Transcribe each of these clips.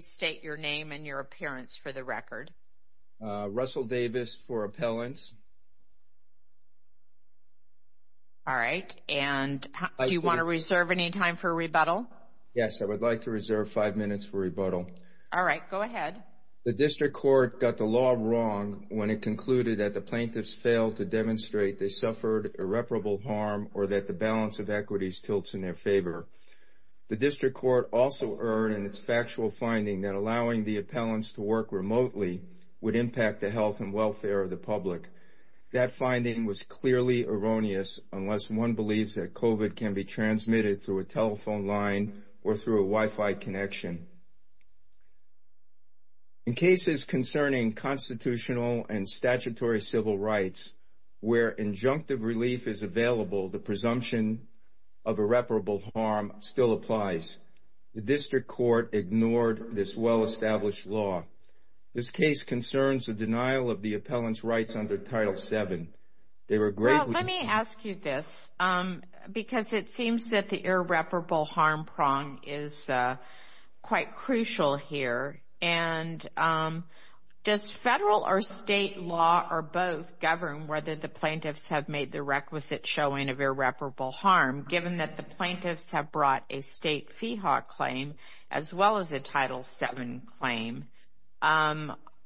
State your name and your appearance for the record. Russell Davis for appellants. All right, and do you want to reserve any time for rebuttal? Yes, I would like to reserve five minutes for rebuttal. All right, go ahead. The district court got the law wrong when it concluded that the plaintiffs failed to demonstrate they suffered irreparable harm or that the balance of equities tilts in their favor. The district court also erred in its factual finding that allowing the appellants to work remotely would impact the health and welfare of the public. That finding was clearly erroneous unless one believes that COVID can be transmitted through a telephone line or through a Wi-Fi connection. In cases concerning constitutional and statutory civil rights where injunctive relief is available, the presumption of irreparable harm still applies. The district court ignored this well-established law. This case concerns the denial of the appellants' rights under Title VII. Well, let me ask you this because it seems that the irreparable harm prong is quite crucial here. And does federal or state law or both govern whether the plaintiffs have made the requisite showing of irreparable harm, given that the plaintiffs have brought a state FEHA claim as well as a Title VII claim?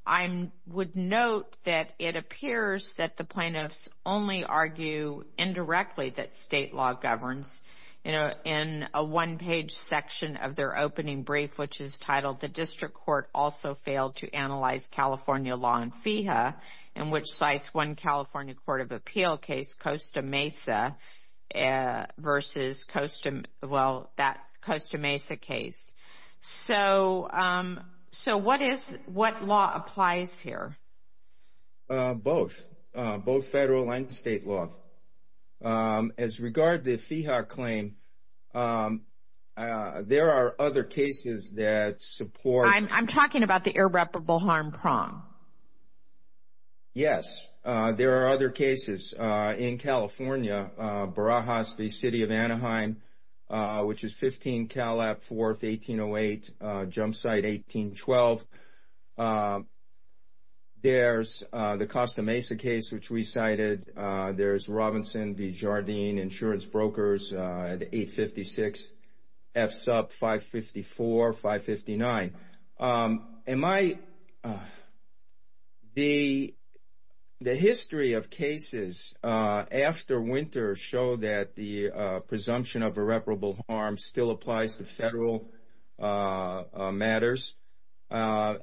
I would note that it appears that the plaintiffs only argue indirectly that state law governs. In a one-page section of their opening brief, which is titled, The District Court Also Failed to Analyze California Law and FEHA, in which cites one California court of appeal case, Costa Mesa, versus, well, that Costa Mesa case. So what law applies here? Both, both federal and state law. As regard to the FEHA claim, there are other cases that support. I'm talking about the irreparable harm prong. Yes, there are other cases. In California, Barajas v. City of Anaheim, which is 15 Cal. App. 4th, 1808, jump site 1812. There's the Costa Mesa case, which we cited. There's Robinson v. Jardine Insurance Brokers, 856 F. Sub. 554, 559. The history of cases after winter show that the presumption of irreparable harm still applies to federal matters. Before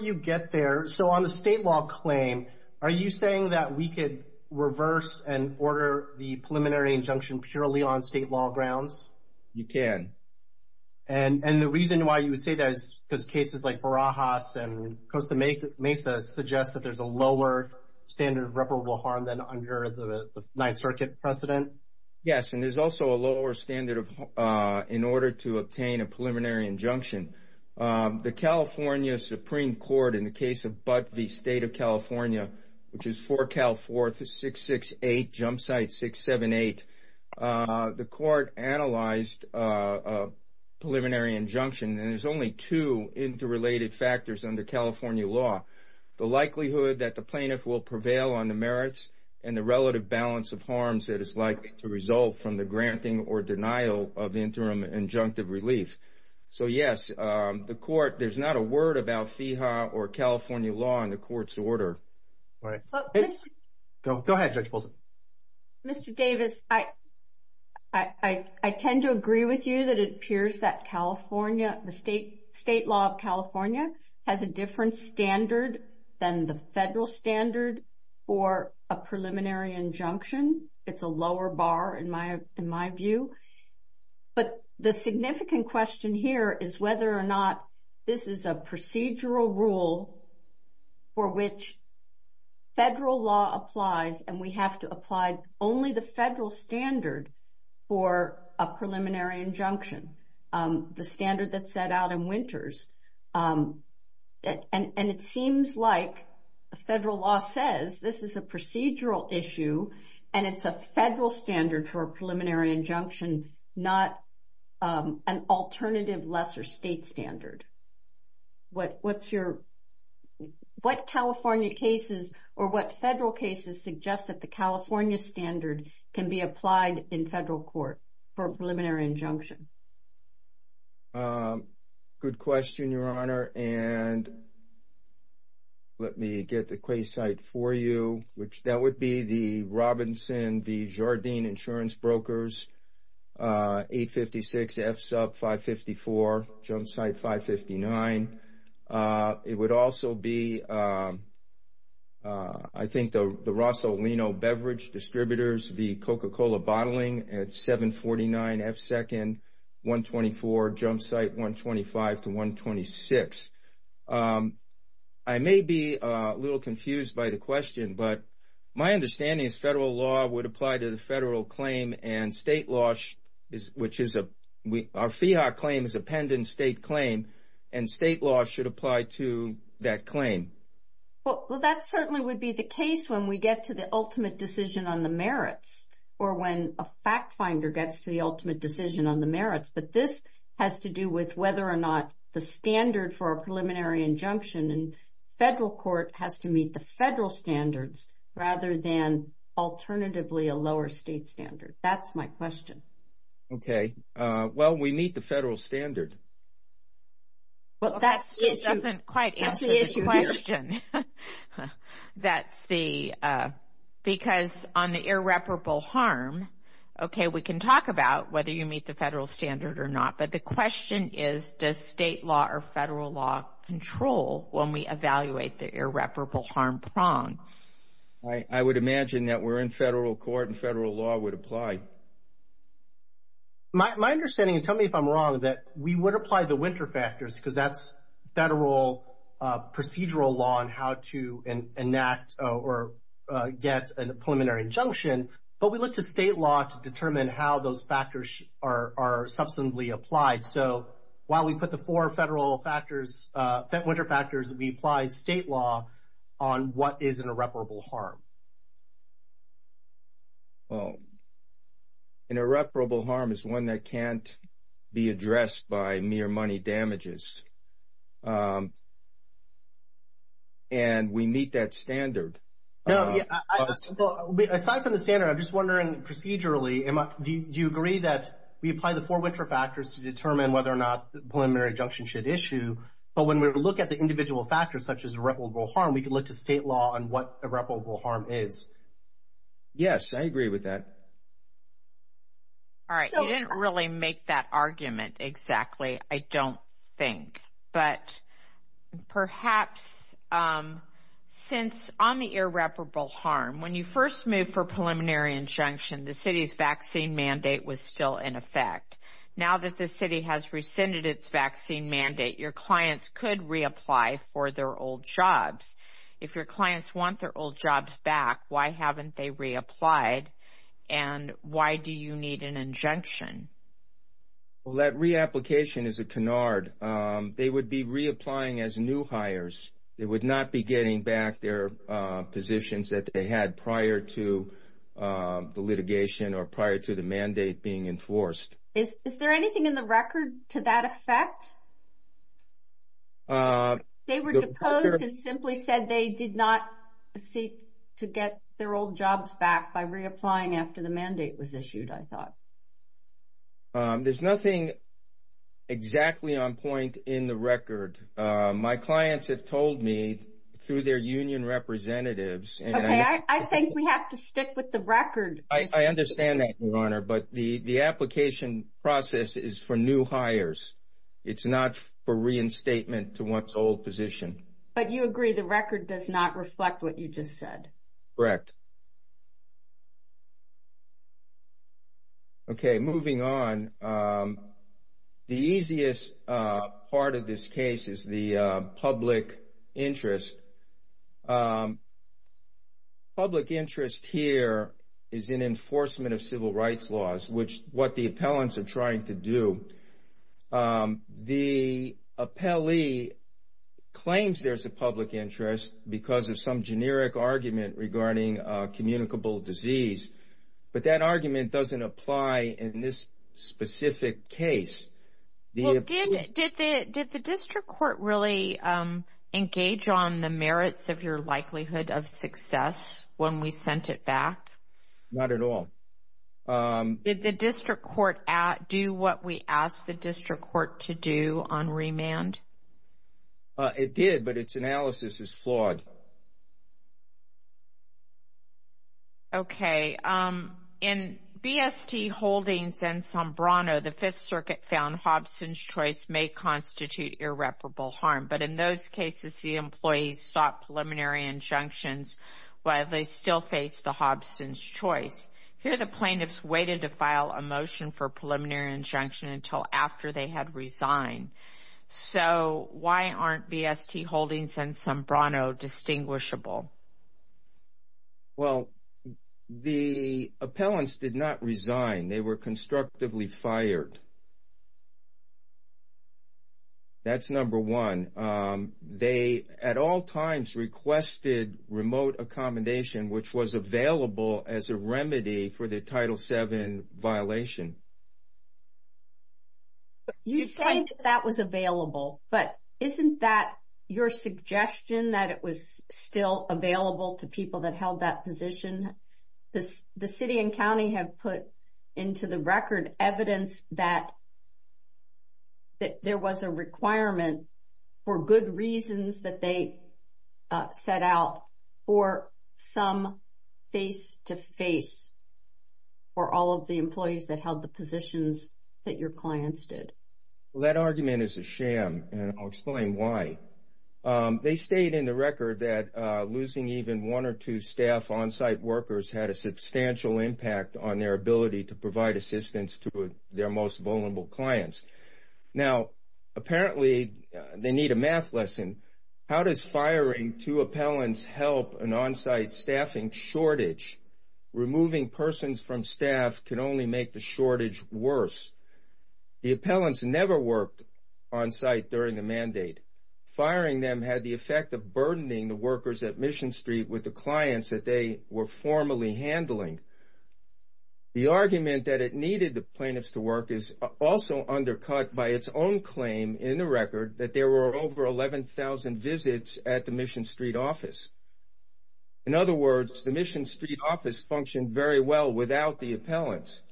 you get there, so on the state law claim, are you saying that we could reverse and order the preliminary injunction purely on state law grounds? You can. Okay. And the reason why you would say that is because cases like Barajas and Costa Mesa suggest that there's a lower standard of irreparable harm than under the Ninth Circuit precedent? Yes, and there's also a lower standard in order to obtain a preliminary injunction. The California Supreme Court, in the case of Butt v. State of California, which is 4 Cal. 4th, 668, jump site 678, the court analyzed a preliminary injunction, and there's only two interrelated factors under California law. The likelihood that the plaintiff will prevail on the merits and the relative balance of harms that is likely to result from the granting or denial of interim injunctive relief. So, yes, the court, there's not a word about FEHA or California law in the court's order. Go ahead, Judge Paulson. Mr. Davis, I tend to agree with you that it appears that California, the state law of California, has a different standard than the federal standard for a preliminary injunction. It's a lower bar in my view. But the significant question here is whether or not this is a procedural rule for which federal law applies and we have to apply only the federal standard for a preliminary injunction, the standard that set out in Winters. And it seems like federal law says this is a procedural issue and it's a federal standard for a preliminary injunction, not an alternative lesser state standard. What California cases or what federal cases suggest that the California standard can be applied in federal court for a preliminary injunction? Good question, Your Honor. And let me get the quayside for you, which that would be the Robinson v. Jardine Insurance Brokers, 856 F-Sub, 554 Jumpsite, 559. It would also be, I think, the Rosso Lino Beverage Distributors, the Coca-Cola Bottling at 749 F-Second, 124 Jumpsite, 125 to 126. I may be a little confused by the question, but my understanding is federal law would apply to the federal claim and state law, which is our FEHA claim is a pendant state claim, and state law should apply to that claim. Well, that certainly would be the case when we get to the ultimate decision on the merits or when a fact finder gets to the ultimate decision on the merits. But this has to do with whether or not the standard for a preliminary injunction in federal court has to meet the federal standards rather than alternatively a lower state standard. That's my question. Okay. Well, we meet the federal standard. Well, that still doesn't quite answer the question. Because on the irreparable harm, okay, we can talk about whether you meet the federal standard or not, but the question is does state law or federal law control when we evaluate the irreparable harm prong? I would imagine that we're in federal court and federal law would apply. My understanding, and tell me if I'm wrong, that we would apply the winter factors because that's federal procedural law on how to enact or get a preliminary injunction, but we look to state law to determine how those factors are substantively applied. So while we put the four federal factors, winter factors, we apply state law on what is an irreparable harm. Well, an irreparable harm is one that can't be addressed by mere money damages. And we meet that standard. Aside from the standard, I'm just wondering procedurally, do you agree that we apply the four winter factors to determine whether or not the preliminary injunction should issue, but when we look at the individual factors such as irreparable harm, we can look to state law on what irreparable harm is? Yes, I agree with that. All right. You didn't really make that argument exactly, I don't think. But perhaps since on the irreparable harm, when you first moved for preliminary injunction, the city's vaccine mandate was still in effect. Now that the city has rescinded its vaccine mandate, your clients could reapply for their old jobs. If your clients want their old jobs back, why haven't they reapplied, and why do you need an injunction? Well, that reapplication is a canard. They would be reapplying as new hires. They would not be getting back their positions that they had prior to the litigation or prior to the mandate being enforced. Is there anything in the record to that effect? They were deposed and simply said they did not seek to get their old jobs back by reapplying after the mandate was issued, I thought. There's nothing exactly on point in the record. My clients have told me through their union representatives. Okay, I think we have to stick with the record. I understand that, Your Honor, but the application process is for new hires. It's not for reinstatement to one's old position. But you agree the record does not reflect what you just said? Correct. Okay, moving on. The easiest part of this case is the public interest. Public interest here is in enforcement of civil rights laws, which is what the appellants are trying to do. The appellee claims there's a public interest because of some generic argument regarding communicable disease, but that argument doesn't apply in this specific case. Did the district court really engage on the merits of your likelihood of success when we sent it back? Not at all. Did the district court do what we asked the district court to do on remand? It did, but its analysis is flawed. Okay. In BST Holdings and Sombrano, the Fifth Circuit found Hobson's choice may constitute irreparable harm, but in those cases, the employees sought preliminary injunctions while they still faced the Hobson's choice. Here, the plaintiffs waited to file a motion for preliminary injunction until after they had resigned. So why aren't BST Holdings and Sombrano distinguishable? Well, the appellants did not resign. They were constructively fired. That's number one. They at all times requested remote accommodation, which was available as a remedy for the Title VII violation. You say that that was available, but isn't that your suggestion that it was still available to people that held that position? The city and county have put into the record evidence that there was a requirement for good reasons that they set out for some face-to-face for all of the employees that held the positions that your clients did. Well, that argument is a sham, and I'll explain why. They state in the record that losing even one or two staff on-site workers had a substantial impact on their ability to provide assistance to their most vulnerable clients. Now, apparently they need a math lesson. How does firing two appellants help an on-site staffing shortage? Removing persons from staff can only make the shortage worse. The appellants never worked on-site during the mandate. Firing them had the effect of burdening the workers at Mission Street with the clients that they were formally handling. The argument that it needed the plaintiffs to work is also undercut by its own claim in the record that there were over 11,000 visits at the Mission Street office. In other words, the Mission Street office functioned very well without the appellants.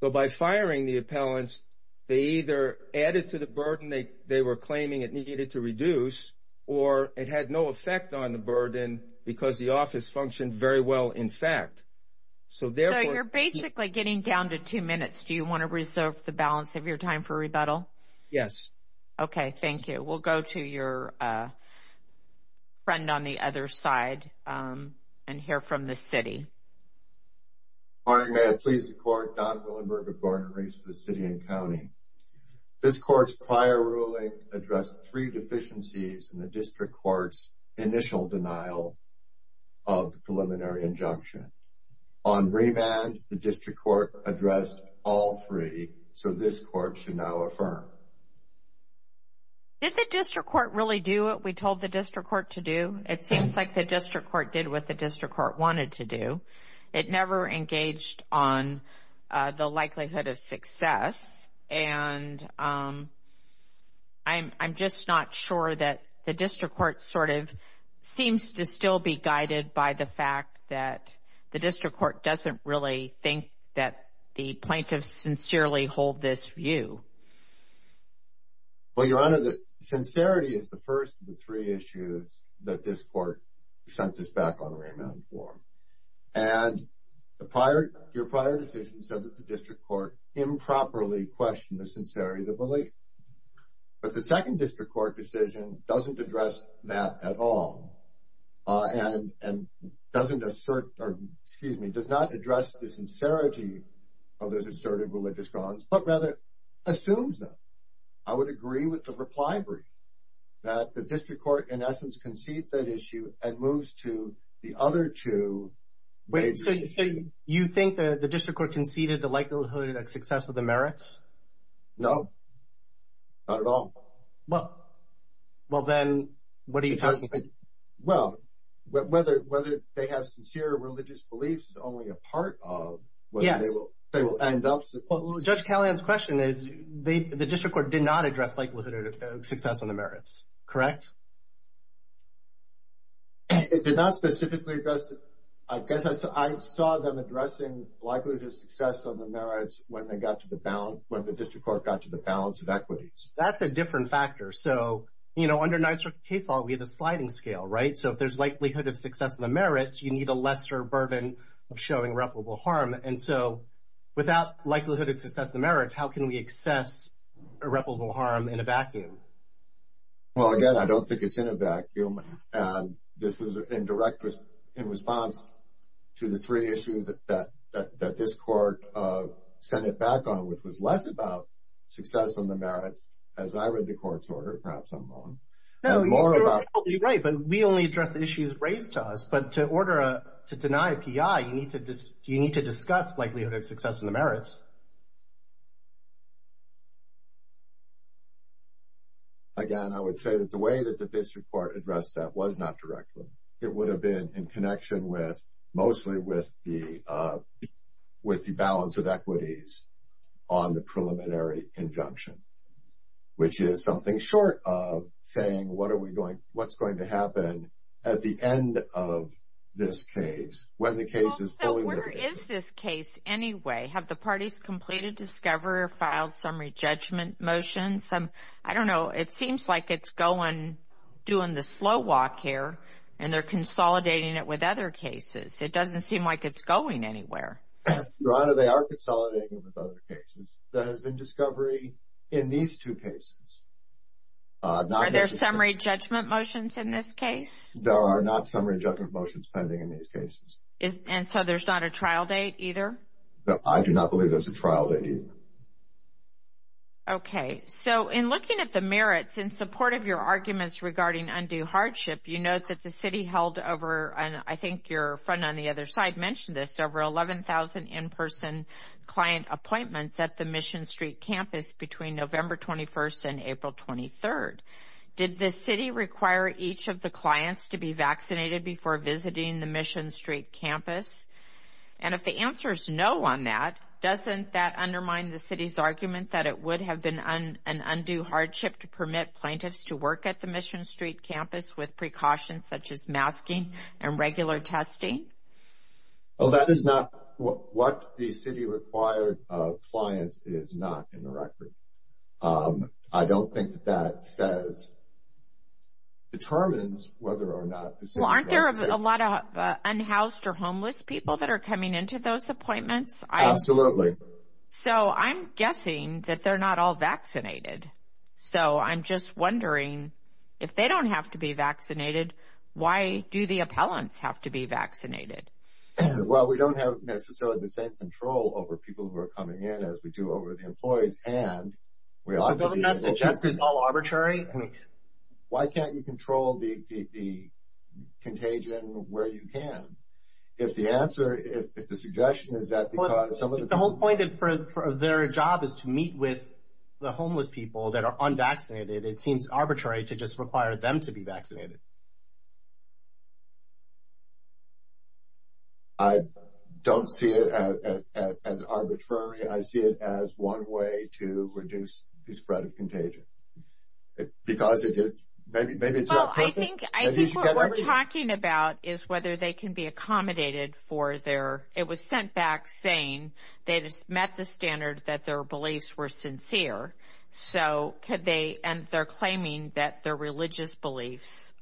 So by firing the appellants, they either added to the burden they were claiming it needed to reduce, or it had no effect on the burden because the office functioned very well in fact. So you're basically getting down to two minutes. Do you want to reserve the balance of your time for rebuttal? Yes. Okay, thank you. We'll go to your friend on the other side and hear from the city. Good morning. May it please the Court, Don Willenberg of Gordon-Reese for the City and County. This Court's prior ruling addressed three deficiencies in the District Court's initial denial of the preliminary injunction. On remand, the District Court addressed all three, so this Court should now affirm. Did the District Court really do what we told the District Court to do? It seems like the District Court did what the District Court wanted to do. It never engaged on the likelihood of success, and I'm just not sure that the District Court sort of seems to still be guided by the fact that the District Court doesn't really think that the plaintiffs sincerely hold this view. Well, Your Honor, sincerity is the first of the three issues that this Court sent us back on remand for. And your prior decision said that the District Court improperly questioned the sincerity of the belief. But the second District Court decision doesn't address that at all, and doesn't assert or, excuse me, does not address the sincerity of those asserted religious grounds, but rather assumes them. I would agree with the reply brief that the District Court, in essence, concedes that issue and moves to the other two. Wait, so you think that the District Court conceded the likelihood of success with the merits? No, not at all. Well, then what are you talking about? Well, whether they have sincere religious beliefs is only a part of whether they will end up sincere. Well, Judge Callahan's question is the District Court did not address likelihood of success on the merits, correct? It did not specifically address it. I saw them addressing likelihood of success on the merits when the District Court got to the balance of equities. That's a different factor. So, you know, under NYSERDA case law, we have the sliding scale, right? So if there's likelihood of success on the merits, you need a lesser burden of showing reputable harm. And so without likelihood of success on the merits, how can we assess irreparable harm in a vacuum? Well, again, I don't think it's in a vacuum. And this was in response to the three issues that this Court sent it back on, which was less about success on the merits, as I read the Court's order, perhaps I'm wrong. No, you're absolutely right, but we only addressed the issues raised to us. But to order a – to deny a PI, you need to discuss likelihood of success on the merits. Again, I would say that the way that the District Court addressed that was not directly. It would have been in connection with – mostly with the balance of equities on the preliminary injunction, which is something short of saying what are we going – what's going to happen at the end of this case, when the case is fully – Where is this case anyway? Have the parties completed discovery or filed summary judgment motions? I don't know. It seems like it's going – doing the slow walk here, and they're consolidating it with other cases. It doesn't seem like it's going anywhere. Your Honor, they are consolidating it with other cases. There has been discovery in these two cases. Are there summary judgment motions in this case? There are not summary judgment motions pending in these cases. And so there's not a trial date either? I do not believe there's a trial date either. Okay. So in looking at the merits, in support of your arguments regarding undue hardship, you note that the city held over – and I think your friend on the other side mentioned this – over 11,000 in-person client appointments at the Mission Street campus between November 21st and April 23rd. Did the city require each of the clients to be vaccinated before visiting the Mission Street campus? And if the answer is no on that, doesn't that undermine the city's argument that it would have been an undue hardship to permit plaintiffs to work at the Mission Street campus with precautions such as masking and regular testing? Well, that is not – what the city required of clients is not in the record. I don't think that that says – determines whether or not the city – Well, aren't there a lot of unhoused or homeless people that are coming into those appointments? Absolutely. So I'm guessing that they're not all vaccinated. So I'm just wondering, if they don't have to be vaccinated, why do the appellants have to be vaccinated? Well, we don't have necessarily the same control over people who are coming in as we do over the employees. And we ought to be able to – So doesn't that suggest it's all arbitrary? Why can't you control the contagion where you can? If the answer – if the suggestion is that because some of the people – The whole point of their job is to meet with the homeless people that are unvaccinated. It seems arbitrary to just require them to be vaccinated. I don't see it as arbitrary. I see it as one way to reduce the spread of contagion. Because it is – maybe it's more perfect. I think what we're talking about is whether they can be accommodated for their – it was sent back saying they just met the standard that their beliefs were sincere. So could they – and they're claiming that their religious beliefs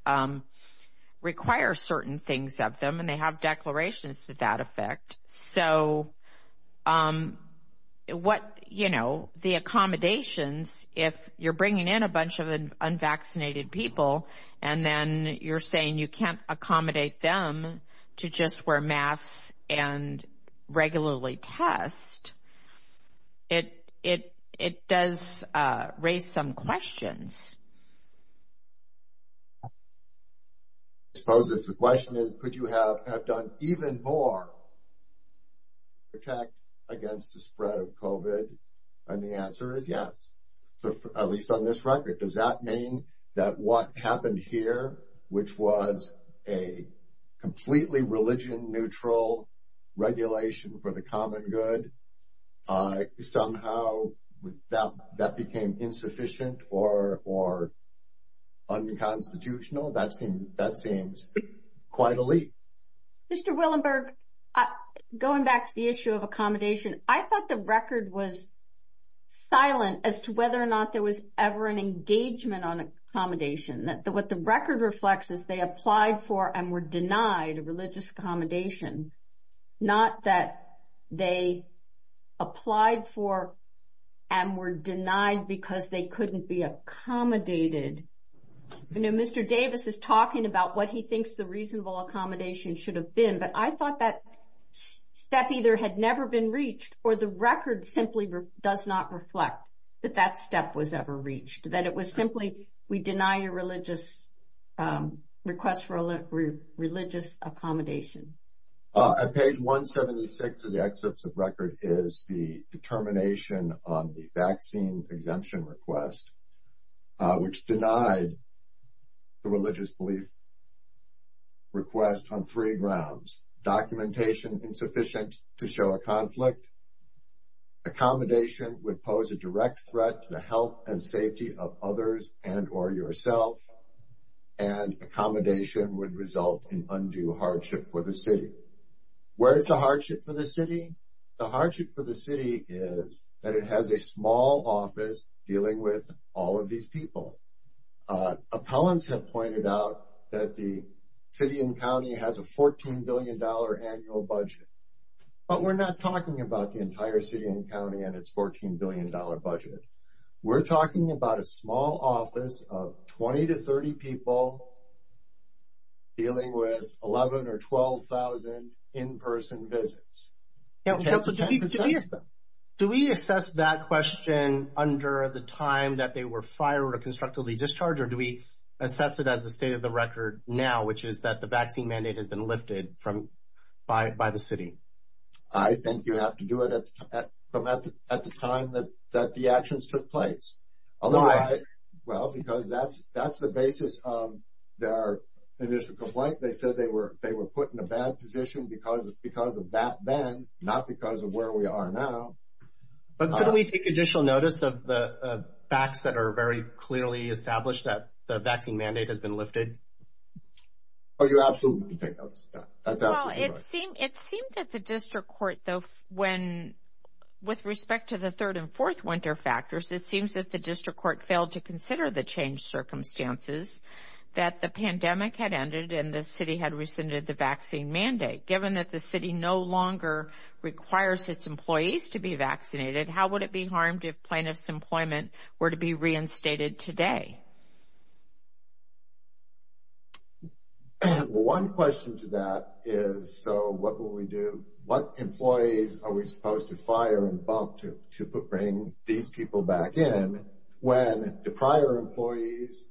require certain things of them. And they have declarations to that effect. So what – you know, the accommodations, if you're bringing in a bunch of unvaccinated people, and then you're saying you can't accommodate them to just wear masks and regularly test, it does raise some questions. I suppose the question is, could you have done even more to protect against the spread of COVID? And the answer is yes, at least on this record. Does that mean that what happened here, which was a completely religion-neutral regulation for the common good, somehow that became insufficient or unconstitutional? That seems quite a leap. Mr. Willenberg, going back to the issue of accommodation, I thought the record was silent as to whether or not there was ever an engagement on accommodation. What the record reflects is they applied for and were denied a religious accommodation, not that they applied for and were denied because they couldn't be accommodated. I know Mr. Davis is talking about what he thinks the reasonable accommodation should have been, but I thought that step either had never been reached, or the record simply does not reflect that that step was ever reached, that it was simply, we deny your request for a religious accommodation. On page 176 of the excerpts of record is the determination on the vaccine exemption request, which denied the religious belief request on three grounds. Documentation insufficient to show a conflict. Accommodation would pose a direct threat to the health and safety of others and or yourself, and accommodation would result in undue hardship for the city. Where is the hardship for the city? The hardship for the city is that it has a small office dealing with all of these people. Appellants have pointed out that the city and county has a $14 billion annual budget, but we're not talking about the entire city and county and its $14 billion budget. We're talking about a small office of 20 to 30 people dealing with 11 or 12,000 in-person visits. Do we assess that question under the time that they were fired or constructively discharged, or do we assess it as the state of the record now, which is that the vaccine mandate has been lifted by the city? I think you have to do it at the time that the actions took place. Well, because that's the basis of their initial complaint. They said they were put in a bad position because of that then, not because of where we are now. But couldn't we take additional notice of the facts that are very clearly established that the vaccine mandate has been lifted? Oh, you absolutely can take notice of that. That's absolutely right. It seems that the district court, though, when with respect to the third and fourth winter factors, it seems that the district court failed to consider the changed circumstances that the pandemic had ended and the city had rescinded the vaccine mandate. Given that the city no longer requires its employees to be vaccinated, how would it be harmed if plaintiffs' employment were to be reinstated today? Well, one question to that is, so what will we do? What employees are we supposed to fire and bump to bring these people back in when the prior employees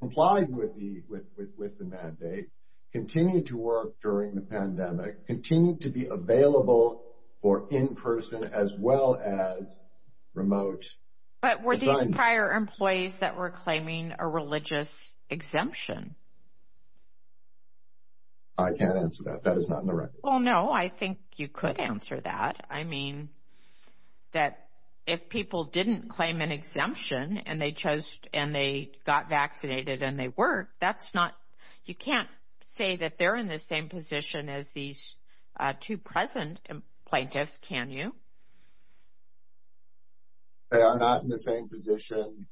complied with the mandate, continued to work during the pandemic, continued to be available for in-person as well as remote assignments? But were these prior employees that were claiming a religious exemption? I can't answer that. That is not in the record. Well, no, I think you could answer that. I mean, that if people didn't claim an exemption and they chose and they got vaccinated and they worked, that's not, you can't say that they're in the same position as these two present plaintiffs, can you? They are not in the same position.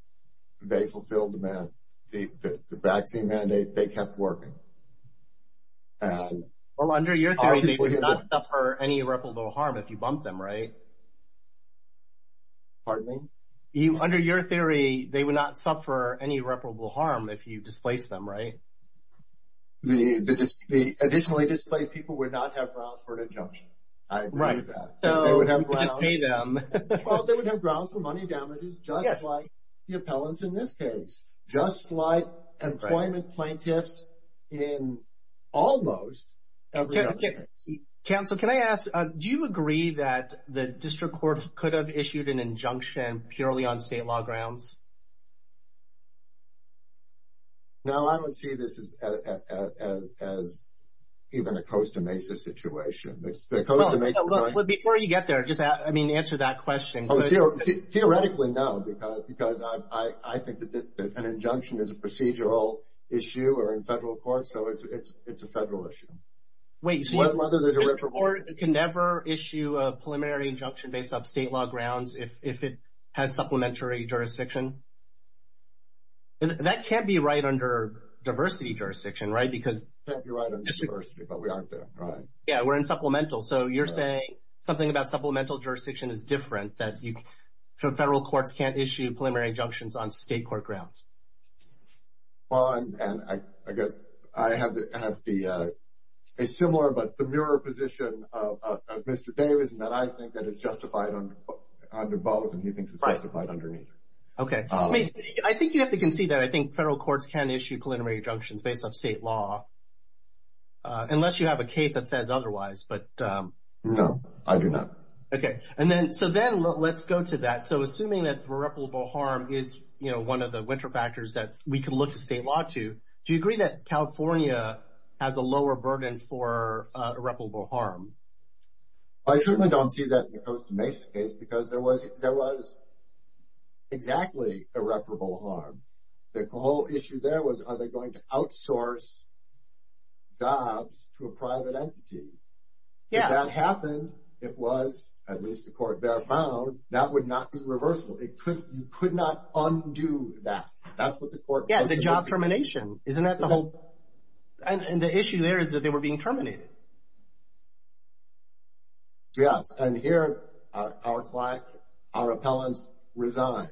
They fulfilled the vaccine mandate. They kept working. Well, under your theory, they would not suffer any irreparable harm if you bumped them, right? Pardon me? Under your theory, they would not suffer any irreparable harm if you displaced them, right? The additionally displaced people would not have grounds for an injunction. I agree with that. Right. They would have grounds. Well, they would have grounds for money damages just like the appellants in this case. Just like employment plaintiffs in almost every other case. Counsel, can I ask, do you agree that the district court could have issued an injunction purely on state law grounds? No, I would see this as even a Costa Mesa situation. Before you get there, just answer that question. Theoretically, no, because I think that an injunction is a procedural issue or in federal court, so it's a federal issue. Wait, so you can never issue a preliminary injunction based on state law grounds if it has supplementary jurisdiction? That can't be right under diversity jurisdiction, right? It can't be right under diversity, but we aren't there, right? Yeah, we're in supplemental, so you're saying something about supplemental jurisdiction is different, that federal courts can't issue preliminary injunctions on state court grounds. Well, and I guess I have a similar but the mirror position of Mr. Davis, and that I think that it's justified under both, and he thinks it's justified underneath. Okay. I think you have to concede that I think federal courts can issue preliminary injunctions based on state law, unless you have a case that says otherwise. No, I do not. So then let's go to that. So assuming that irreparable harm is one of the winter factors that we can look to state law to, do you agree that California has a lower burden for irreparable harm? I certainly don't see that in the Costa Mesa case because there was exactly irreparable harm. The whole issue there was are they going to outsource jobs to a private entity? Yeah. If that happened, it was, at least the court found, that would not be reversible. You could not undo that. Yeah, the job termination. Isn't that the whole? And the issue there is that they were being terminated. Yes, and here our client, our appellants resigned.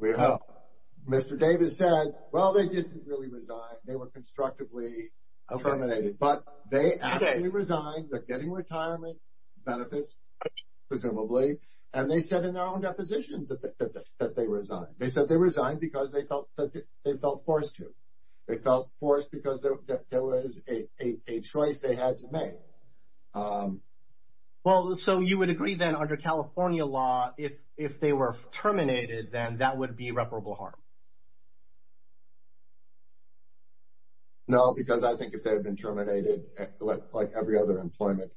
Mr. Davis said, well, they didn't really resign. They were constructively terminated. But they actually resigned. They're getting retirement benefits, presumably. And they said in their own depositions that they resigned. They said they resigned because they felt forced to. They felt forced because there was a choice they had to make. Well, so you would agree, then, under California law, if they were terminated then that would be irreparable harm? No, because I think if they had been terminated, like every other employment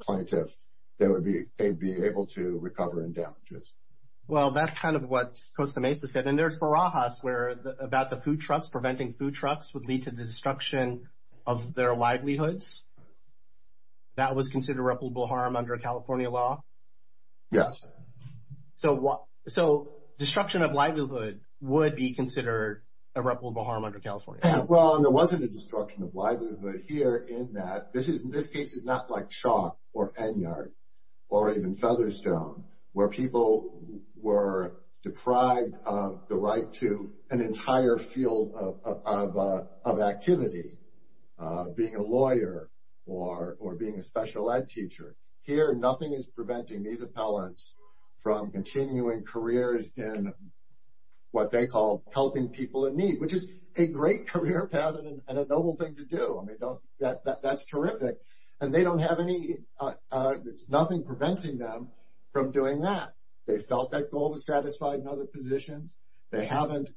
plaintiff, they would be able to recover in damages. Well, that's kind of what Costa Mesa said. And there's barajas about the food trucks, preventing food trucks would lead to the destruction of their livelihoods. That was considered irreparable harm under California law? So destruction of livelihood would be considered irreparable harm under California law? Well, and there wasn't a destruction of livelihood here in that, this case is not like shock or Fenyard or even Featherstone, where people were deprived of the right to an entire field of activity, being a lawyer or being a special ed teacher. Here, nothing is preventing these appellants from continuing careers in what they call helping people in need, which is a great career path and a noble thing to do. I mean, that's terrific. And they don't have any, there's nothing preventing them from doing that. They felt that goal was satisfied in other positions. They haven't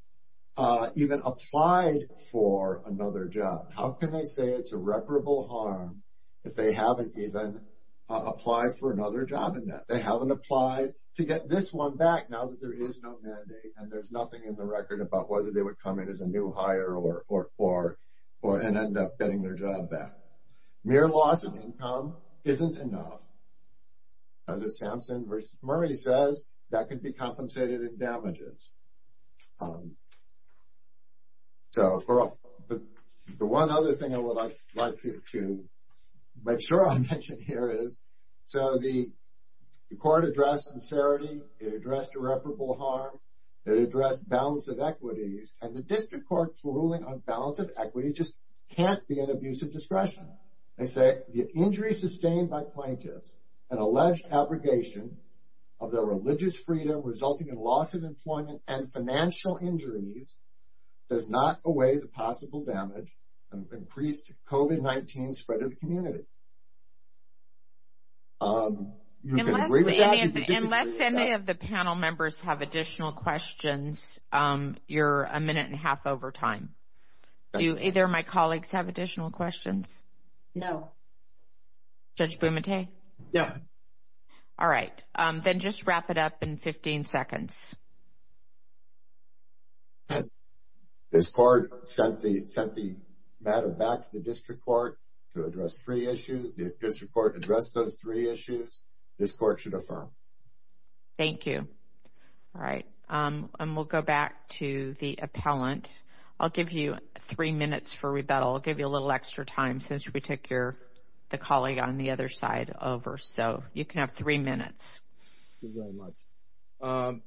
even applied for another job. How can they say it's irreparable harm if they haven't even applied for another job in that? They haven't applied to get this one back now that there is no mandate and there's nothing in the record about whether they would come in as a new hire and end up getting their job back. Mere loss of income isn't enough. As Samson v. Murray says, that could be compensated in damages. So, the one other thing I would like to make sure I mention here is, so the court addressed sincerity, it addressed irreparable harm, it addressed balance of equities, and the district court's ruling on balance of equities just can't be an abuse of discretion. They say, the injury sustained by plaintiffs and alleged abrogation of their religious freedom resulting in loss of employment and financial injuries does not away the possible damage of increased COVID-19 spread of the community. You can agree with that, you can disagree with that. Unless any of the panel members have additional questions, you're a minute and a half over time. Do either of my colleagues have additional questions? Judge Bumate? No. All right, then just wrap it up in 15 seconds. This court sent the matter back to the district court to address three issues. The district court addressed those three issues. This court should affirm. Thank you. All right, and we'll go back to the appellant. I'll give you three minutes for rebuttal. I'll give you a little extra time since we took the colleague on the other side over, so you can have three minutes. Thank you very much.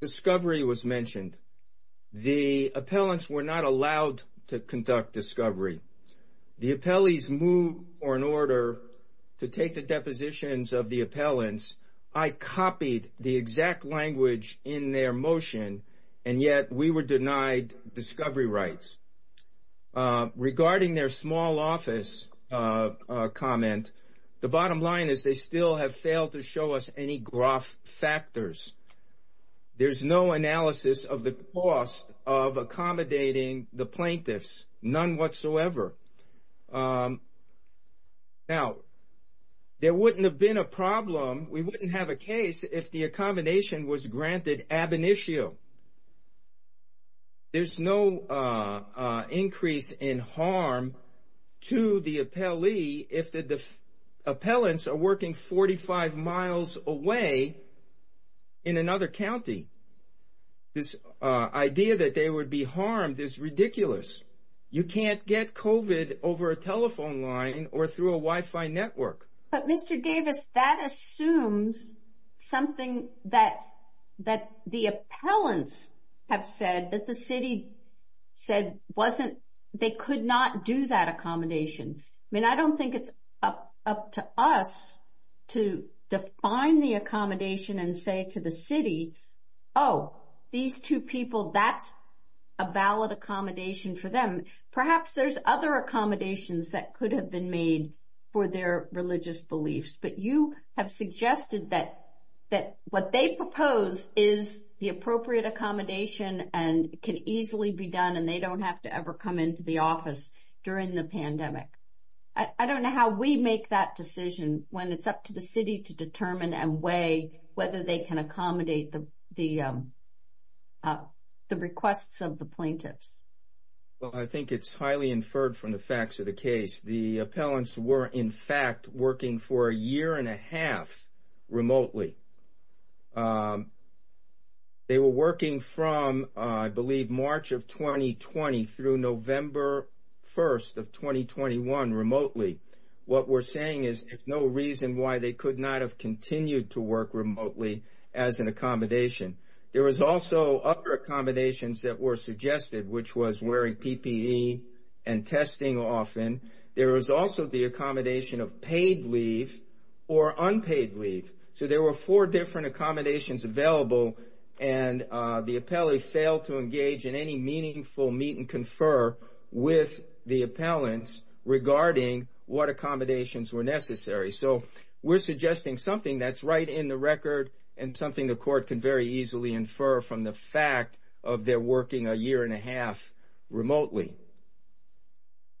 Discovery was mentioned. The appellants were not allowed to conduct discovery. The appellees moved for an order to take the depositions of the appellants. I copied the exact language in their motion, and yet we were denied discovery rights. Regarding their small office comment, the bottom line is they still have failed to show us any gross factors. There's no analysis of the cost of accommodating the plaintiffs, none whatsoever. Now, there wouldn't have been a problem, we wouldn't have a case, if the accommodation was granted ab initio. There's no increase in harm to the appellee, if the appellants are working 45 miles away in another county. This idea that they would be harmed is ridiculous. You can't get COVID over a telephone line or through a Wi-Fi network. But Mr. Davis, that assumes something that the appellants have said, that the city said they could not do that accommodation. I mean, I don't think it's up to us to define the accommodation and say to the city, oh, these two people, that's a valid accommodation for them. Perhaps there's other accommodations that could have been made for their religious beliefs, but you have suggested that what they propose is the appropriate accommodation and can easily be done and they don't have to ever come into the office during the pandemic. I don't know how we make that decision when it's up to the city to determine and weigh whether they can accommodate the requests of the plaintiffs. Well, I think it's highly inferred from the facts of the case. The appellants were, in fact, working for a year and a half remotely. They were working from, I believe, March of 2020 through November 1st of 2021 remotely. What we're saying is there's no reason why they could not have continued to work remotely as an accommodation. There was also other accommodations that were suggested, which was wearing PPE and testing often. There was also the accommodation of paid leave or unpaid leave. So there were four different accommodations available, and the appellee failed to engage in any meaningful meet and confer with the appellants regarding what accommodations were necessary. So we're suggesting something that's right in the record and something the court can very easily infer from the fact of their working a year and a half remotely.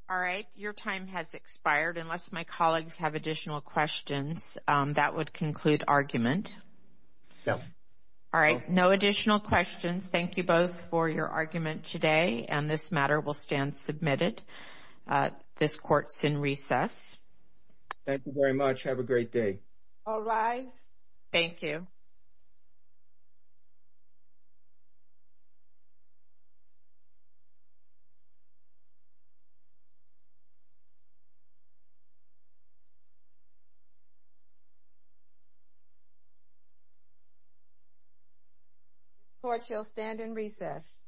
All right. Your time has expired. Unless my colleagues have additional questions, that would conclude argument. No. All right. No additional questions. Thank you both for your argument today, and this matter will stand submitted. This court's in recess. Thank you very much. Have a great day. All rise. Thank you. This court shall stand in recess. Thank you.